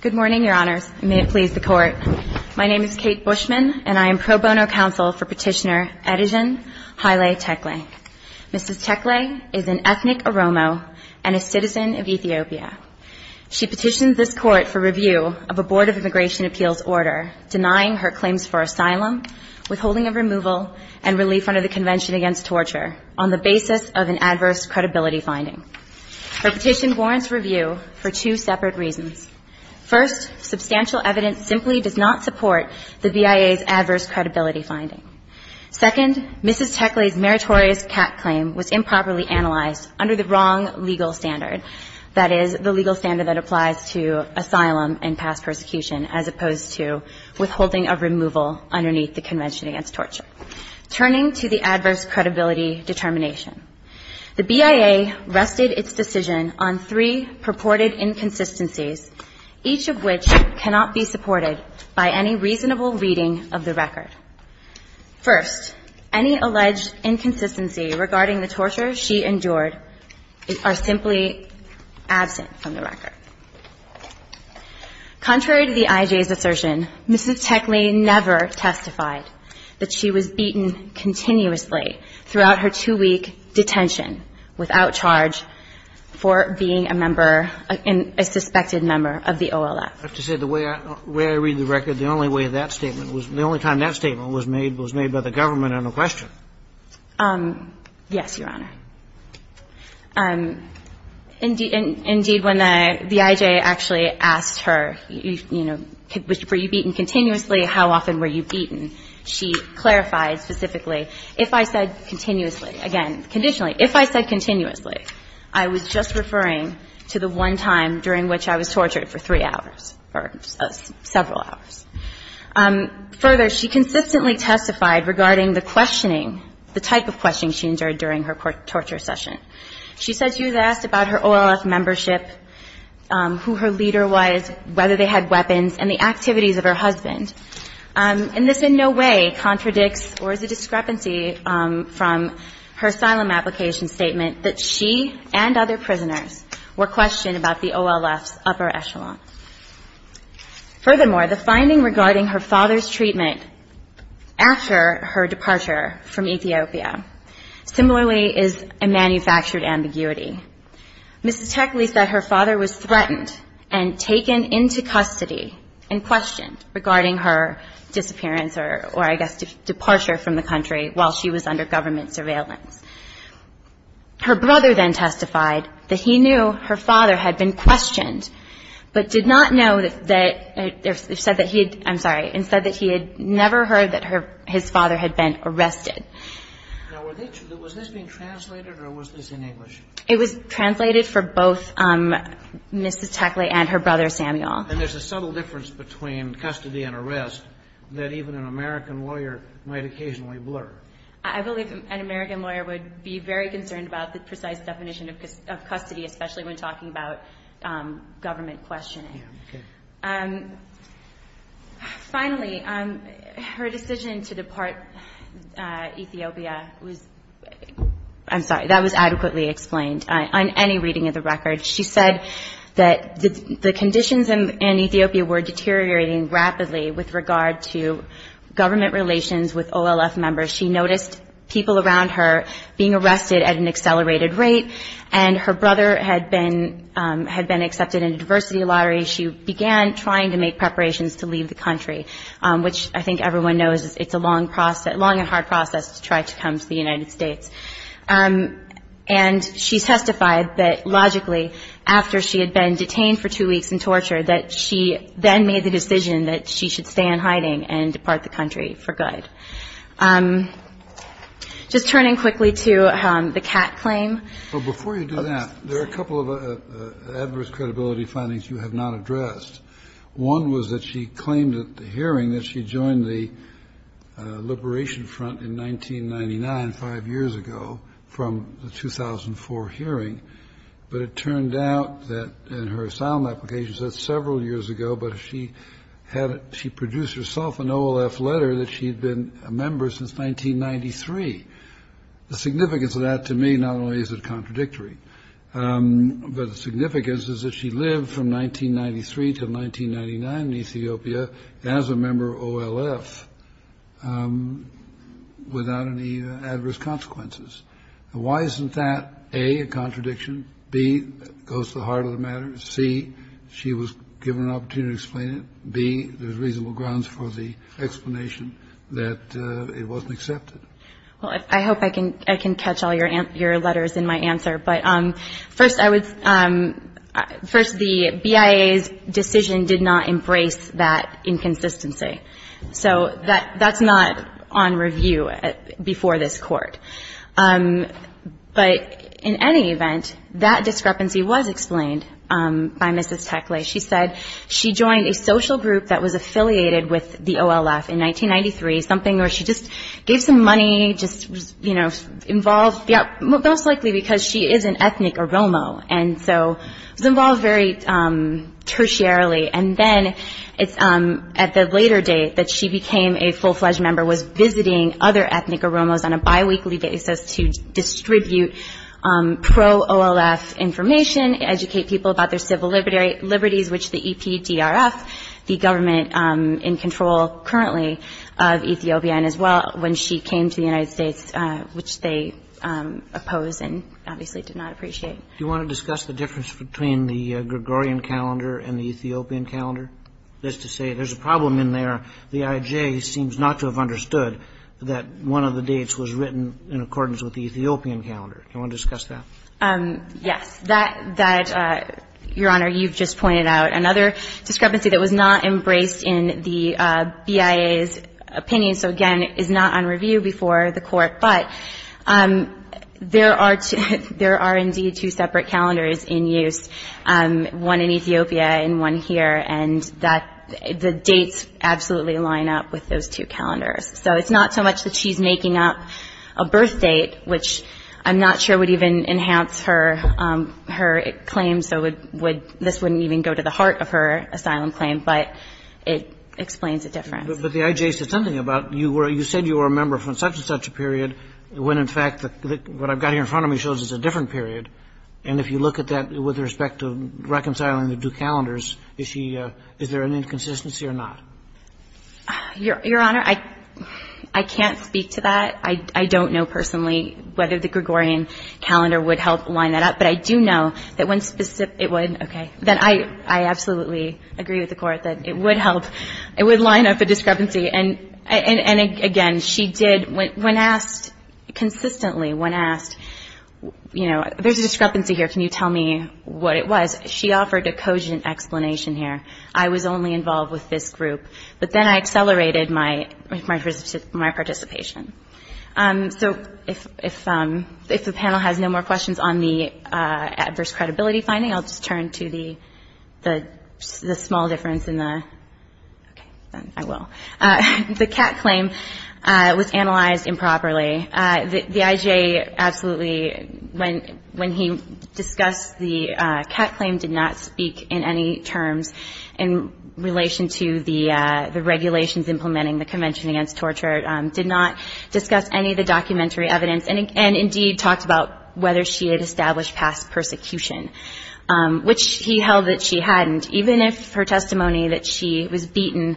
Good morning, Your Honors, and may it please the Court. My name is Kate Bushman, and I am pro bono counsel for Petitioner Adijan Haile Tekle. Mrs. Tekle is an ethnic Oromo and a citizen of Ethiopia. She petitions this Court for review of a Board of Immigration Appeals order denying her claims for asylum, withholding of removal, and relief under the Convention Against Torture on the basis of an adverse credibility finding. Her petition warrants review for two separate reasons. First, substantial evidence simply does not support the BIA's adverse credibility finding. Second, Mrs. Tekle's meritorious CAT claim was improperly analyzed under the wrong legal standard, that is, the legal standard that applies to asylum and past persecution, as opposed to withholding of removal underneath the Convention Against Torture. Turning to the adverse credibility determination, the BIA rested its decision on three purported inconsistencies, each of which cannot be supported by any reasonable reading of the record. First, any alleged inconsistency regarding the torture she endured are simply absent from the record. Contrary to the IJ's assertion, Mrs. Tekle never testified that she was beaten continuously throughout her two-week detention without charge for being a member, a suspected member of the OLF. I have to say, the way I read the record, the only way that statement was, the only time that statement was made was made by the government on the question. Yes, Your Honor. Indeed, when the IJ actually asked her, you know, were you beaten continuously, how often were you beaten, she clarified specifically, if I said continuously, again, conditionally, if I said continuously, I was just referring to the one time during which I was tortured for three hours or several hours. Further, she consistently testified regarding the questioning, the type of questioning she endured during her torture session. She said she was asked about her OLF membership, who her leader was, whether they had weapons, and the activities of her husband. And this in no way contradicts or is a discrepancy from her asylum application statement that she and other prisoners were questioned about the OLF's upper echelon. Furthermore, the finding regarding her father's treatment after her departure from Ethiopia similarly is a manufactured ambiguity. Mrs. Tekle said her father was threatened and taken into custody and questioned regarding her disappearance or, I guess, departure from the country while she was under government surveillance. Her brother then testified that he knew her father had been questioned, but did not know that he had never heard that his father had been arrested. Now, was this being translated or was this in English? It was translated for both Mrs. Tekle and her brother, Samuel. And there's a subtle difference between custody and arrest that even an American lawyer might occasionally blur. I believe an American lawyer would be very concerned about the precise definition of custody, especially when talking about government questioning. Okay. Finally, her decision to depart Ethiopia was – I'm sorry, that was adequately explained on any reading of the record. She said that the conditions in Ethiopia were deteriorating rapidly with regard to government relations with OLF members. She noticed people around her being arrested at an accelerated rate, and her brother had been accepted into diversity lottery. She began trying to make preparations to leave the country, which I think everyone knows it's a long and hard process to try to come to the United States. And she testified that, logically, after she had been detained for two weeks and tortured, that she then made the decision that she should stay in hiding and depart the country for good. Just turning quickly to the Kat claim. Before you do that, there are a couple of adverse credibility findings you have not addressed. One was that she claimed at the hearing that she joined the Liberation Front in 1999, five years ago, from the 2004 hearing. But it turned out that, in her asylum application, she said several years ago, but she produced herself an OLF letter that she'd been a member since 1993. The significance of that, to me, not only is it contradictory, but the significance is that she lived from 1993 to 1999 in Ethiopia as a member of OLF without any adverse consequences. Why isn't that, A, a contradiction, B, goes to the heart of the matter, C, she was given an opportunity to explain it, B, there's reasonable grounds for the explanation that it wasn't accepted? Well, I hope I can catch all your letters in my answer. But first, the BIA's decision did not embrace that inconsistency. So that's not on review before this Court. But in any event, that discrepancy was explained by Mrs. Tekle. She said she joined a social group that was affiliated with the OLF in 1993, something where she just gave some money, just, you know, involved, most likely because she is an ethnic Oromo, and so was involved very tertiarily. And then it's at the later date that she became a full-fledged member, was visiting other ethnic Oromos on a biweekly basis to distribute pro-OLF information, educate people about their civil liberties, which the EPDRF, the government in control currently of Ethiopia, and as well when she came to the United States, which they opposed and obviously did not appreciate. Do you want to discuss the difference between the Gregorian calendar and the Ethiopian calendar? That is to say, there's a problem in there. The IJ seems not to have understood that one of the dates was written in accordance with the Ethiopian calendar. Do you want to discuss that? Yes. That, Your Honor, you've just pointed out. Another discrepancy that was not embraced in the BIA's opinion, so again, is not on review before the Court, but there are indeed two separate calendars in use, one in Ethiopia and one here, and the dates absolutely line up with those two calendars. So it's not so much that she's making up a birth date, which I'm not sure would even enhance her claims, so this wouldn't even go to the heart of her asylum claim, but it explains the difference. But the IJ said something about, you said you were a member from such-and-such a period when in fact what I've got here in front of me shows it's a different period, and if you look at that with respect to reconciling the two calendars, is there an inconsistency or not? Your Honor, I can't speak to that. I don't know personally whether the Gregorian calendar would help line that up, but I do know that when specific, it would, okay, that I absolutely agree with the Court that it would help, it would line up a discrepancy. And again, she did, when asked consistently, when asked, you know, there's a discrepancy here, can you tell me what it was, she offered a cogent explanation here, I was only involved with this group, but then I accelerated my participation. So if the panel has no more questions on the adverse credibility finding, I'll just turn to the small difference in the, okay, I will. The Catt claim was analyzed improperly. The IJA absolutely, when he discussed the Catt claim, did not speak in any terms in relation to the regulations implementing the Convention Against Torture, did not discuss any of the documentary evidence, and indeed talked about whether she had established past persecution, which he held that she hadn't, even if her testimony that she was beaten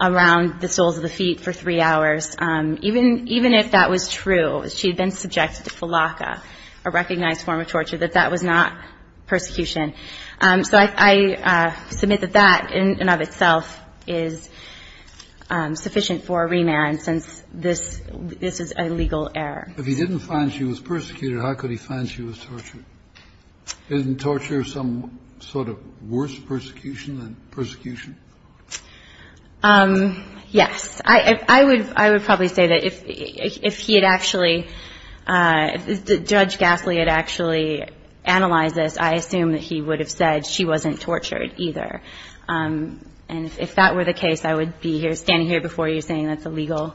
around the soles of the feet for three hours, even if that was true, she had been subjected to felaca, a recognized form of torture, that that was not persecution. So I submit that that in and of itself is sufficient for a remand, since this is a legal error. If he didn't find she was persecuted, how could he find she was tortured? Isn't torture some sort of worse persecution than persecution? Yes. I would probably say that if he had actually, if Judge Gasly had actually analyzed this, I assume that he would have said she wasn't tortured either. And if that were the case, I would be standing here before you saying that's a legal error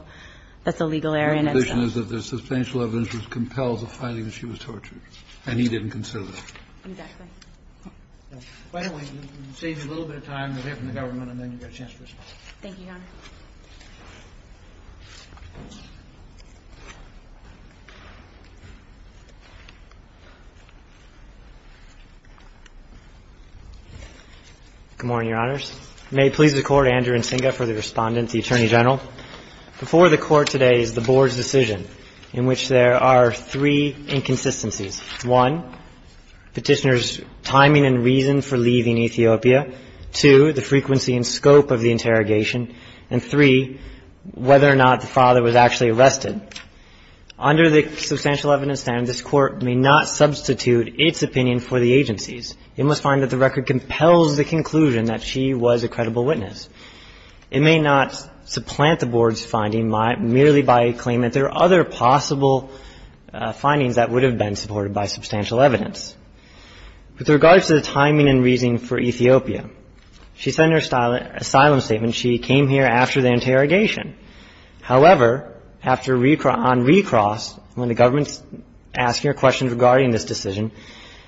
in itself. But the conclusion is that the substantial evidence was compelled to find that she was tortured, and he didn't consider that. Exactly. Why don't we save you a little bit of time, we'll hear from the government, and then you've got a chance to respond. Thank you, Your Honor. Good morning, Your Honors. May it please the Court, Andrew Nsinga for the Respondent, the Attorney General. Before the Court today is the Board's decision in which there are three inconsistencies. One, Petitioner's timing and reason for leaving Ethiopia. Two, the frequency and scope of the interrogation. And three, whether or not the father was actually arrested. Under the substantial evidence standard, this Court may not substitute its opinion for the agency's. It must find that the record compels the conclusion that she was a credible witness. It may not supplant the Board's finding merely by a claim that there are other possible findings that would have been supported by substantial evidence. With regards to the timing and reason for Ethiopia, she said in her asylum statement she came here after the interrogation. However, after on recross, when the government's asking her questions regarding this decision,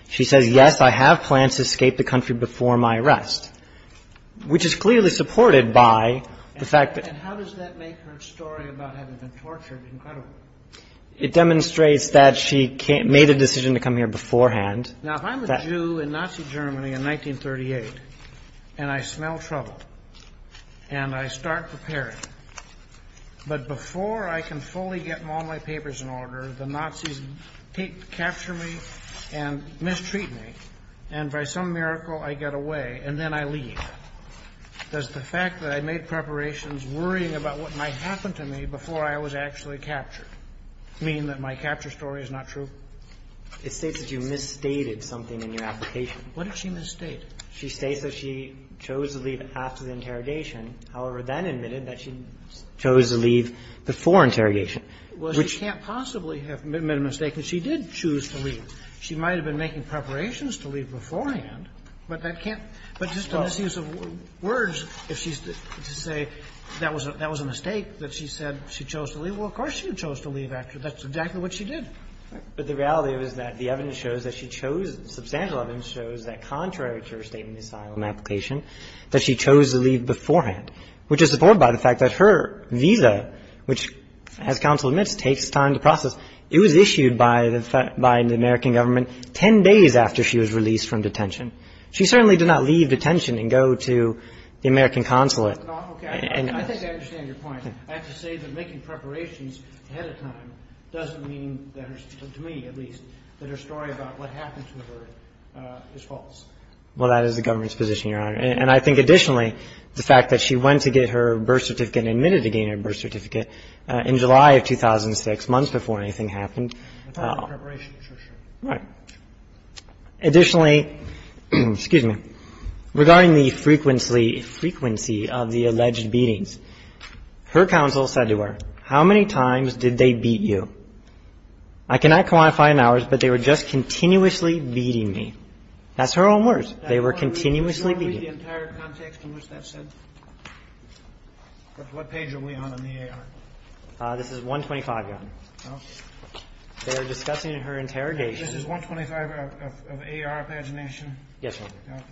she says, yes, I have plans to escape the country before my arrest, which is clearly supported by the fact that. And how does that make her story about having been tortured incredible? It demonstrates that she made a decision to come here beforehand. Now, if I'm a Jew in Nazi Germany in 1938 and I smell trouble and I start preparing, but before I can fully get all my papers in order, the Nazis capture me and mistreat me, and by some miracle I get away and then I leave, does the fact that I made preparations worrying about what might happen to me before I was actually captured mean that my capture story is not true? It states that you misstated something in your application. What did she misstate? She states that she chose to leave after the interrogation, however, then admitted that she chose to leave before interrogation, which can't possibly have been a mistake because she did choose to leave. She might have been making preparations to leave beforehand, but that can't be just a misuse of words if she's to say that was a mistake, that she said she chose to leave. Well, of course she chose to leave after. That's exactly what she did. But the reality is that the evidence shows that she chose, substantial evidence shows that contrary to her statement in the asylum application, that she chose to leave beforehand, which is supported by the fact that her visa, which, as counsel She certainly did not leave detention and go to the American consulate. No, okay. I think I understand your point. I have to say that making preparations ahead of time doesn't mean, to me at least, that her story about what happened to her is false. Well, that is the government's position, Your Honor. And I think additionally, the fact that she went to get her birth certificate and admitted to getting her birth certificate in July of 2006, months before anything happened. That's part of the preparation. That's for sure. Right. Additionally, excuse me, regarding the frequency of the alleged beatings, her counsel said to her, how many times did they beat you? I cannot quantify in hours, but they were just continuously beating me. That's her own words. They were continuously beating me. Do you want to read the entire context in which that's said? What page are we on in the AR? This is 125, Your Honor. They're discussing her interrogation. This is 125 of AR pagination? Yes, Your Honor.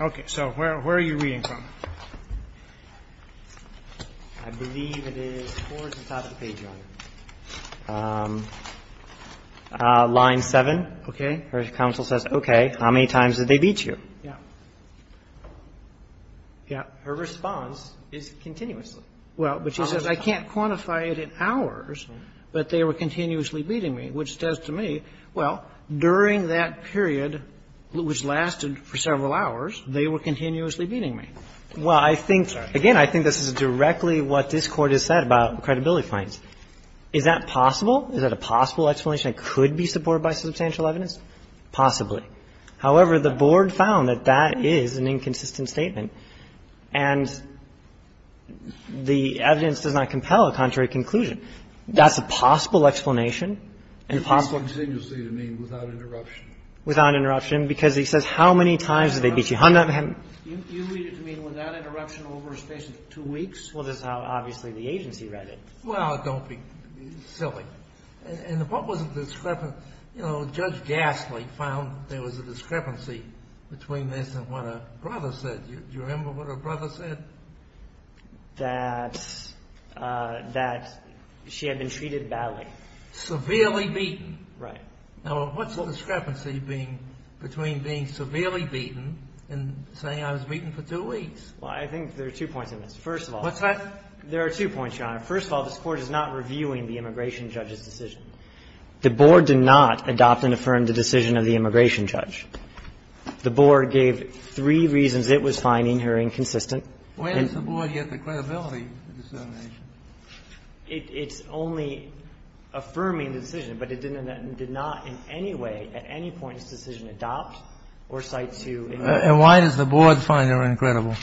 Okay. Okay, so where are you reading from? I believe it is towards the top of the page, Your Honor. Line 7. Okay. Her counsel says, okay, how many times did they beat you? Yeah. Yeah. Her response is continuously. Well, but she says, I can't quantify it in hours, but they were continuously beating me, which says to me, well, during that period, which lasted for several hours, they were continuously beating me. Well, I think, again, I think this is directly what this Court has said about credibility fines. Is that possible? Is that a possible explanation that could be supported by substantial evidence? Possibly. Possibly. However, the Board found that that is an inconsistent statement, and the evidence does not compel a contrary conclusion. That's a possible explanation and possible. Continuously to mean without interruption. Without interruption, because he says how many times did they beat you. You read it to mean without interruption over a space of two weeks? Well, this is how, obviously, the agency read it. Well, don't be silly. And what was the discrepancy? You know, Judge Gasly found there was a discrepancy between this and what her brother said. Do you remember what her brother said? That she had been treated badly. Severely beaten. Right. Now, what's the discrepancy between being severely beaten and saying I was beaten for two weeks? Well, I think there are two points in this. First of all. What's that? There are two points, Your Honor. First of all, this Court is not reviewing the immigration judge's decision. The Board did not adopt and affirm the decision of the immigration judge. The Board gave three reasons it was finding her inconsistent. And it's only affirming the decision, but it did not in any way at any point in its decision adopt or cite to. And why does the Board find her incredible?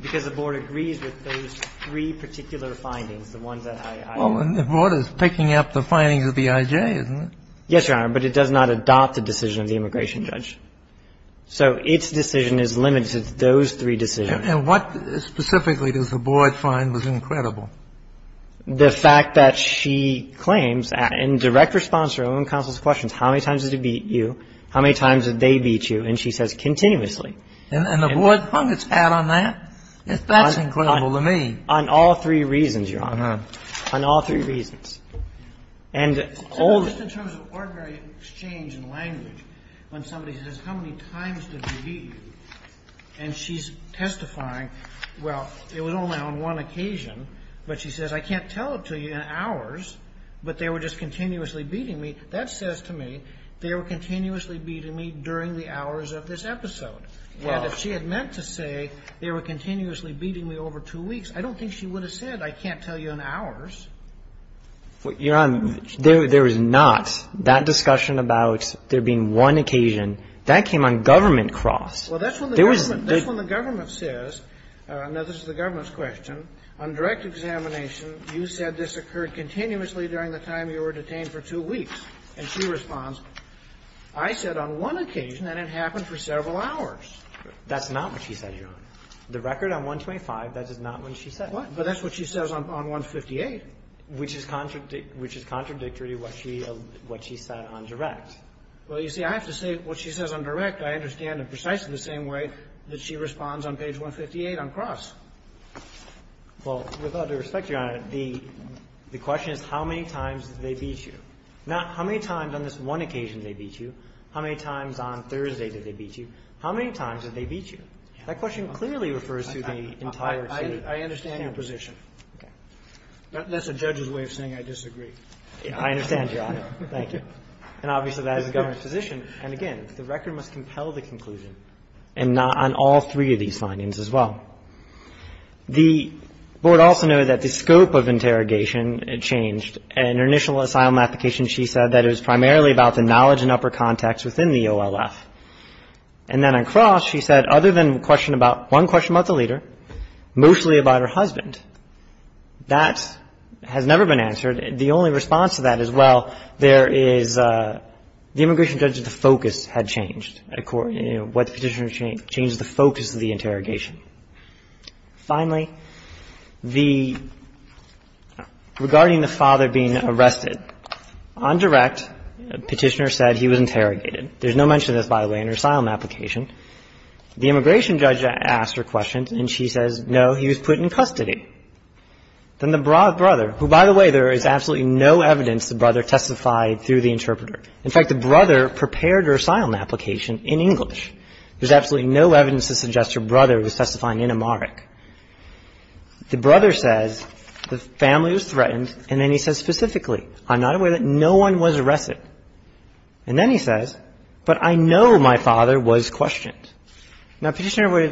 Because the Board agrees with those three particular findings, the ones that I ---- Well, and the Board is picking up the findings of the IJ, isn't it? Yes, Your Honor. But it does not adopt the decision of the immigration judge. So its decision is limited to those three decisions. And what specifically does the Board find was incredible? The fact that she claims in direct response to her own counsel's questions, how many times did he beat you, how many times did they beat you, and she says continuously. And the Board pundits pat on that. That's incredible to me. On all three reasons, Your Honor. On all three reasons. So just in terms of ordinary exchange and language, when somebody says how many times did he beat you, and she's testifying, well, it was only on one occasion, but she says I can't tell it to you in hours, but they were just continuously beating me, that says to me they were continuously beating me during the hours of this episode. And if she had meant to say they were continuously beating me over two weeks, I don't think she would have said I can't tell you in hours. Your Honor, there is not that discussion about there being one occasion. That came on government cross. Well, that's when the government says, now this is the government's question, on direct examination, you said this occurred continuously during the time you were detained for two weeks. And she responds, I said on one occasion and it happened for several hours. That's not what she said, Your Honor. The record on 125, that is not what she said. But that's what she says on 158. Which is contradictory to what she said on direct. Well, you see, I have to say what she says on direct I understand in precisely the same way that she responds on page 158 on cross. Well, with all due respect, Your Honor, the question is how many times did they beat you, not how many times on this one occasion did they beat you, how many times on Thursday did they beat you, how many times did they beat you? That question clearly refers to the entire state. I understand your position. Okay. That's a judge's way of saying I disagree. I understand, Your Honor. Thank you. And obviously, that is the government's position. And again, the record must compel the conclusion. And not on all three of these findings as well. The Board also noted that the scope of interrogation changed. In her initial asylum application, she said that it was primarily about the knowledge and upper context within the OLF. And then on cross, she said other than one question about the leader, mostly about her husband. That has never been answered. The only response to that is, well, there is the immigration judge's focus had changed at court. What the petitioner changed is the focus of the interrogation. Finally, regarding the father being arrested, on direct, the petitioner said he was interrogated. There's no mention of this, by the way, in her asylum application. The immigration judge asked her questions, and she says, no, he was put in custody. Then the brother, who, by the way, there is absolutely no evidence the brother testified through the interpreter. In fact, the brother prepared her asylum application in English. There's absolutely no evidence to suggest her brother was testifying in Amharic. The brother says the family was threatened, and then he says specifically, I'm not aware that no one was arrested. And then he says, but I know my father was questioned. Now, petitioner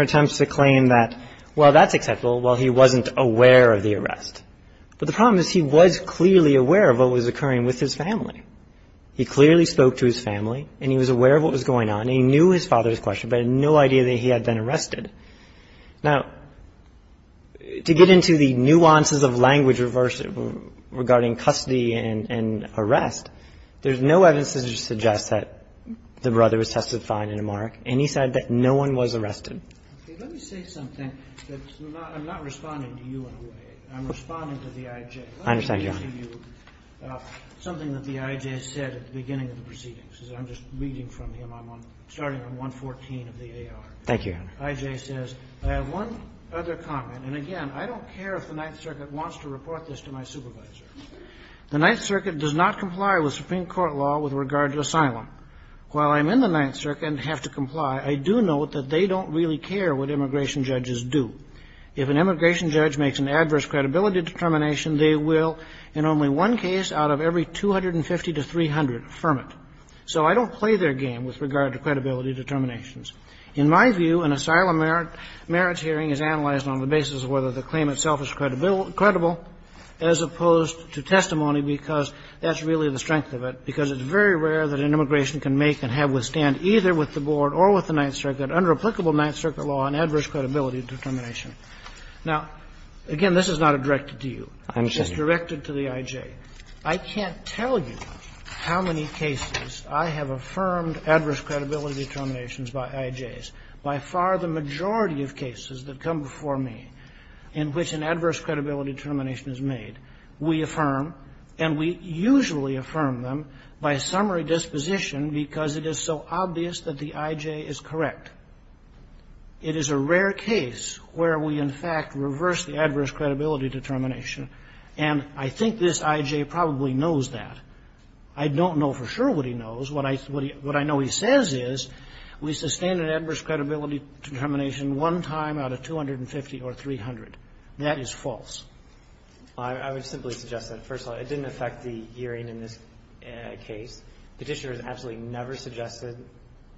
attempts to claim that, well, that's acceptable. Well, he wasn't aware of the arrest. But the problem is he was clearly aware of what was occurring with his family. He clearly spoke to his family, and he was aware of what was going on, and he knew his father's question, but had no idea that he had been arrested. Now, to get into the nuances of language regarding custody and arrest, there's no evidence to suggest that the brother was testifying in Amharic, and he said that no one was arrested. Let me say something. I'm not responding to you in a way. I'm responding to the I.J. Let me say to you something that the I.J. said at the beginning of the proceedings. I'm just reading from him. I'm starting on 114 of the A.R. I.J. says, I have one other comment. And again, I don't care if the Ninth Circuit wants to report this to my supervisor. The Ninth Circuit does not comply with Supreme Court law with regard to asylum. While I'm in the Ninth Circuit and have to comply, I do note that they don't really care what immigration judges do. If an immigration judge makes an adverse credibility determination, they will, in only one case out of every 250 to 300, affirm it. So I don't play their game with regard to credibility determinations. In my view, an asylum merits hearing is analyzed on the basis of whether the claim itself is credible as opposed to testimony, because that's really the strength of it, because it's very rare that an immigration can make and have withstand either with the Board or with the Ninth Circuit under applicable Ninth Circuit law an adverse credibility determination. Now, again, this is not directed to you. It's directed to the I.J. I can't tell you how many cases I have affirmed adverse credibility determinations by I.J.s. By far the majority of cases that come before me in which an adverse credibility determination is made, we affirm, and we usually affirm them by summary disposition because it is so obvious that the I.J. is correct. It is a rare case where we, in fact, reverse the adverse credibility determination. And I think this I.J. probably knows that. I don't know for sure what he knows. What I know he says is, we sustain an adverse credibility determination one time out of 250 or 300. That is false. I would simply suggest that. First of all, it didn't affect the hearing in this case. The Petitioner has absolutely never suggested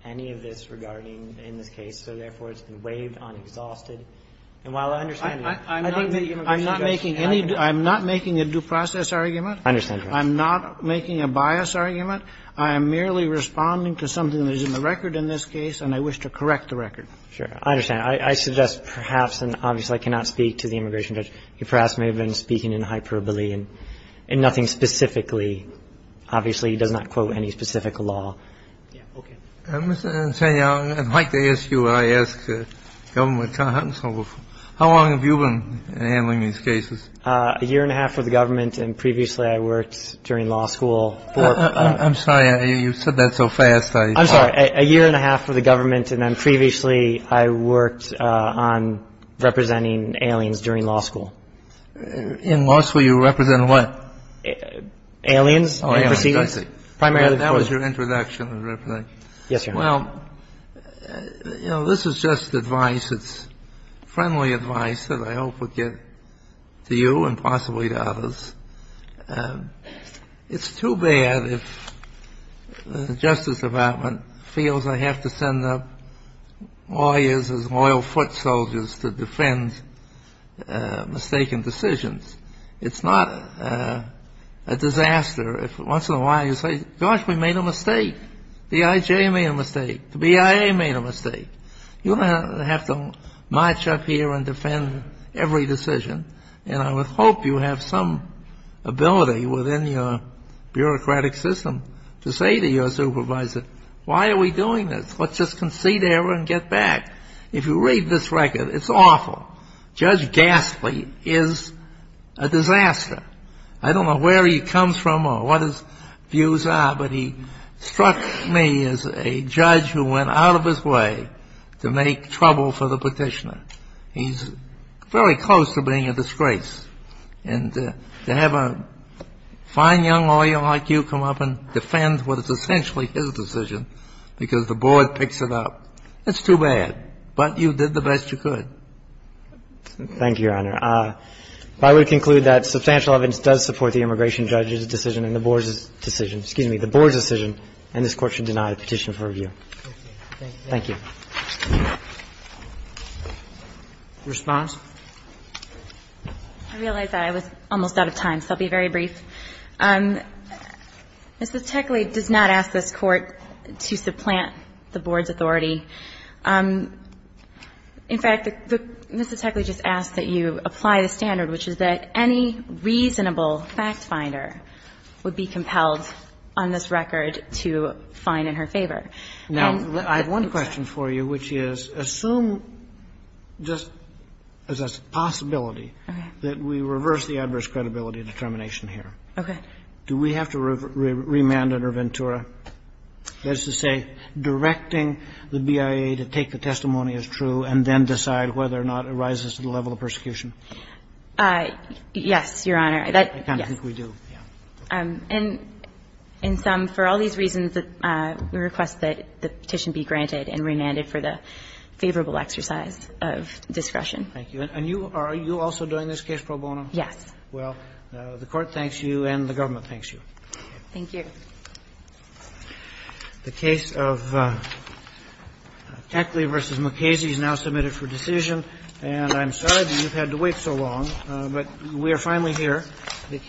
any of this regarding in this case, so therefore it's been waived on exhausted. And while I understand that, I think that the immigration judge can have it. I'm not making any due – I'm not making a due process argument. I understand, Your Honor. I'm not making a bias argument. I am merely responding to something that is in the record in this case, and I wish to correct the record. I understand. I suggest perhaps, and obviously I cannot speak to the immigration judge, he perhaps may have been speaking in hyperbole and nothing specifically. Obviously, he does not quote any specific law. Okay. Mr. Insania, I'd like to ask you what I asked the government counsel before. How long have you been handling these cases? A year and a half for the government, and previously I worked during law school. I'm sorry. You said that so fast. I'm sorry. A year and a half for the government, and then previously I worked on representing aliens during law school. In law school, you represented what? Aliens. Oh, yeah. I see. Primarily. That was your introduction and representation. Yes, Your Honor. Well, you know, this is just advice. It's friendly advice that I hope would get to you and possibly to others. It's too bad if the Justice Department feels I have to send up lawyers as loyal foot soldiers to defend mistaken decisions. It's not a disaster if once in a while you say, gosh, we made a mistake. The IJ made a mistake. The BIA made a mistake. You're going to have to march up here and defend every decision, and I would hope you have some ability within your bureaucratic system to say to your supervisor, why are we doing this? Let's just concede error and get back. If you read this record, it's awful. Judge Gastly is a disaster. I don't know where he comes from or what his views are, but he struck me as a judge who went out of his way to make trouble for the Petitioner. He's very close to being a disgrace. And to have a fine young lawyer like you come up and defend what is essentially his decision because the board picks it up, that's too bad. But you did the best you could. Thank you, Your Honor. I would conclude that substantial evidence does support the immigration judge's decision and the board's decision. Excuse me, the board's decision, and this Court should deny the petition for review. Thank you. Response? I realize that I was almost out of time, so I'll be very brief. Ms. Teckley does not ask this Court to supplant the board's authority. In fact, Ms. Teckley just asked that you apply the standard, which is that any reasonable factfinder would be compelled on this record to fine in her favor. Now, I have one question for you, which is, assume just as a possibility that we reverse the adverse credibility determination here. Okay. Do we have to remand under Ventura, that is to say, directing the BIA to take the testimony as true and then decide whether or not it rises to the level of persecution? Yes, Your Honor. I kind of think we do. And in sum, for all these reasons, we request that the petition be granted and remanded for the favorable exercise of discretion. Thank you. And you are also doing this case pro bono? Yes. Well, the Court thanks you and the government thanks you. Thank you. The case of Teckley v. Mukasey is now submitted for decision. And I'm sorry that you've had to wait so long, but we are finally here. Thank you.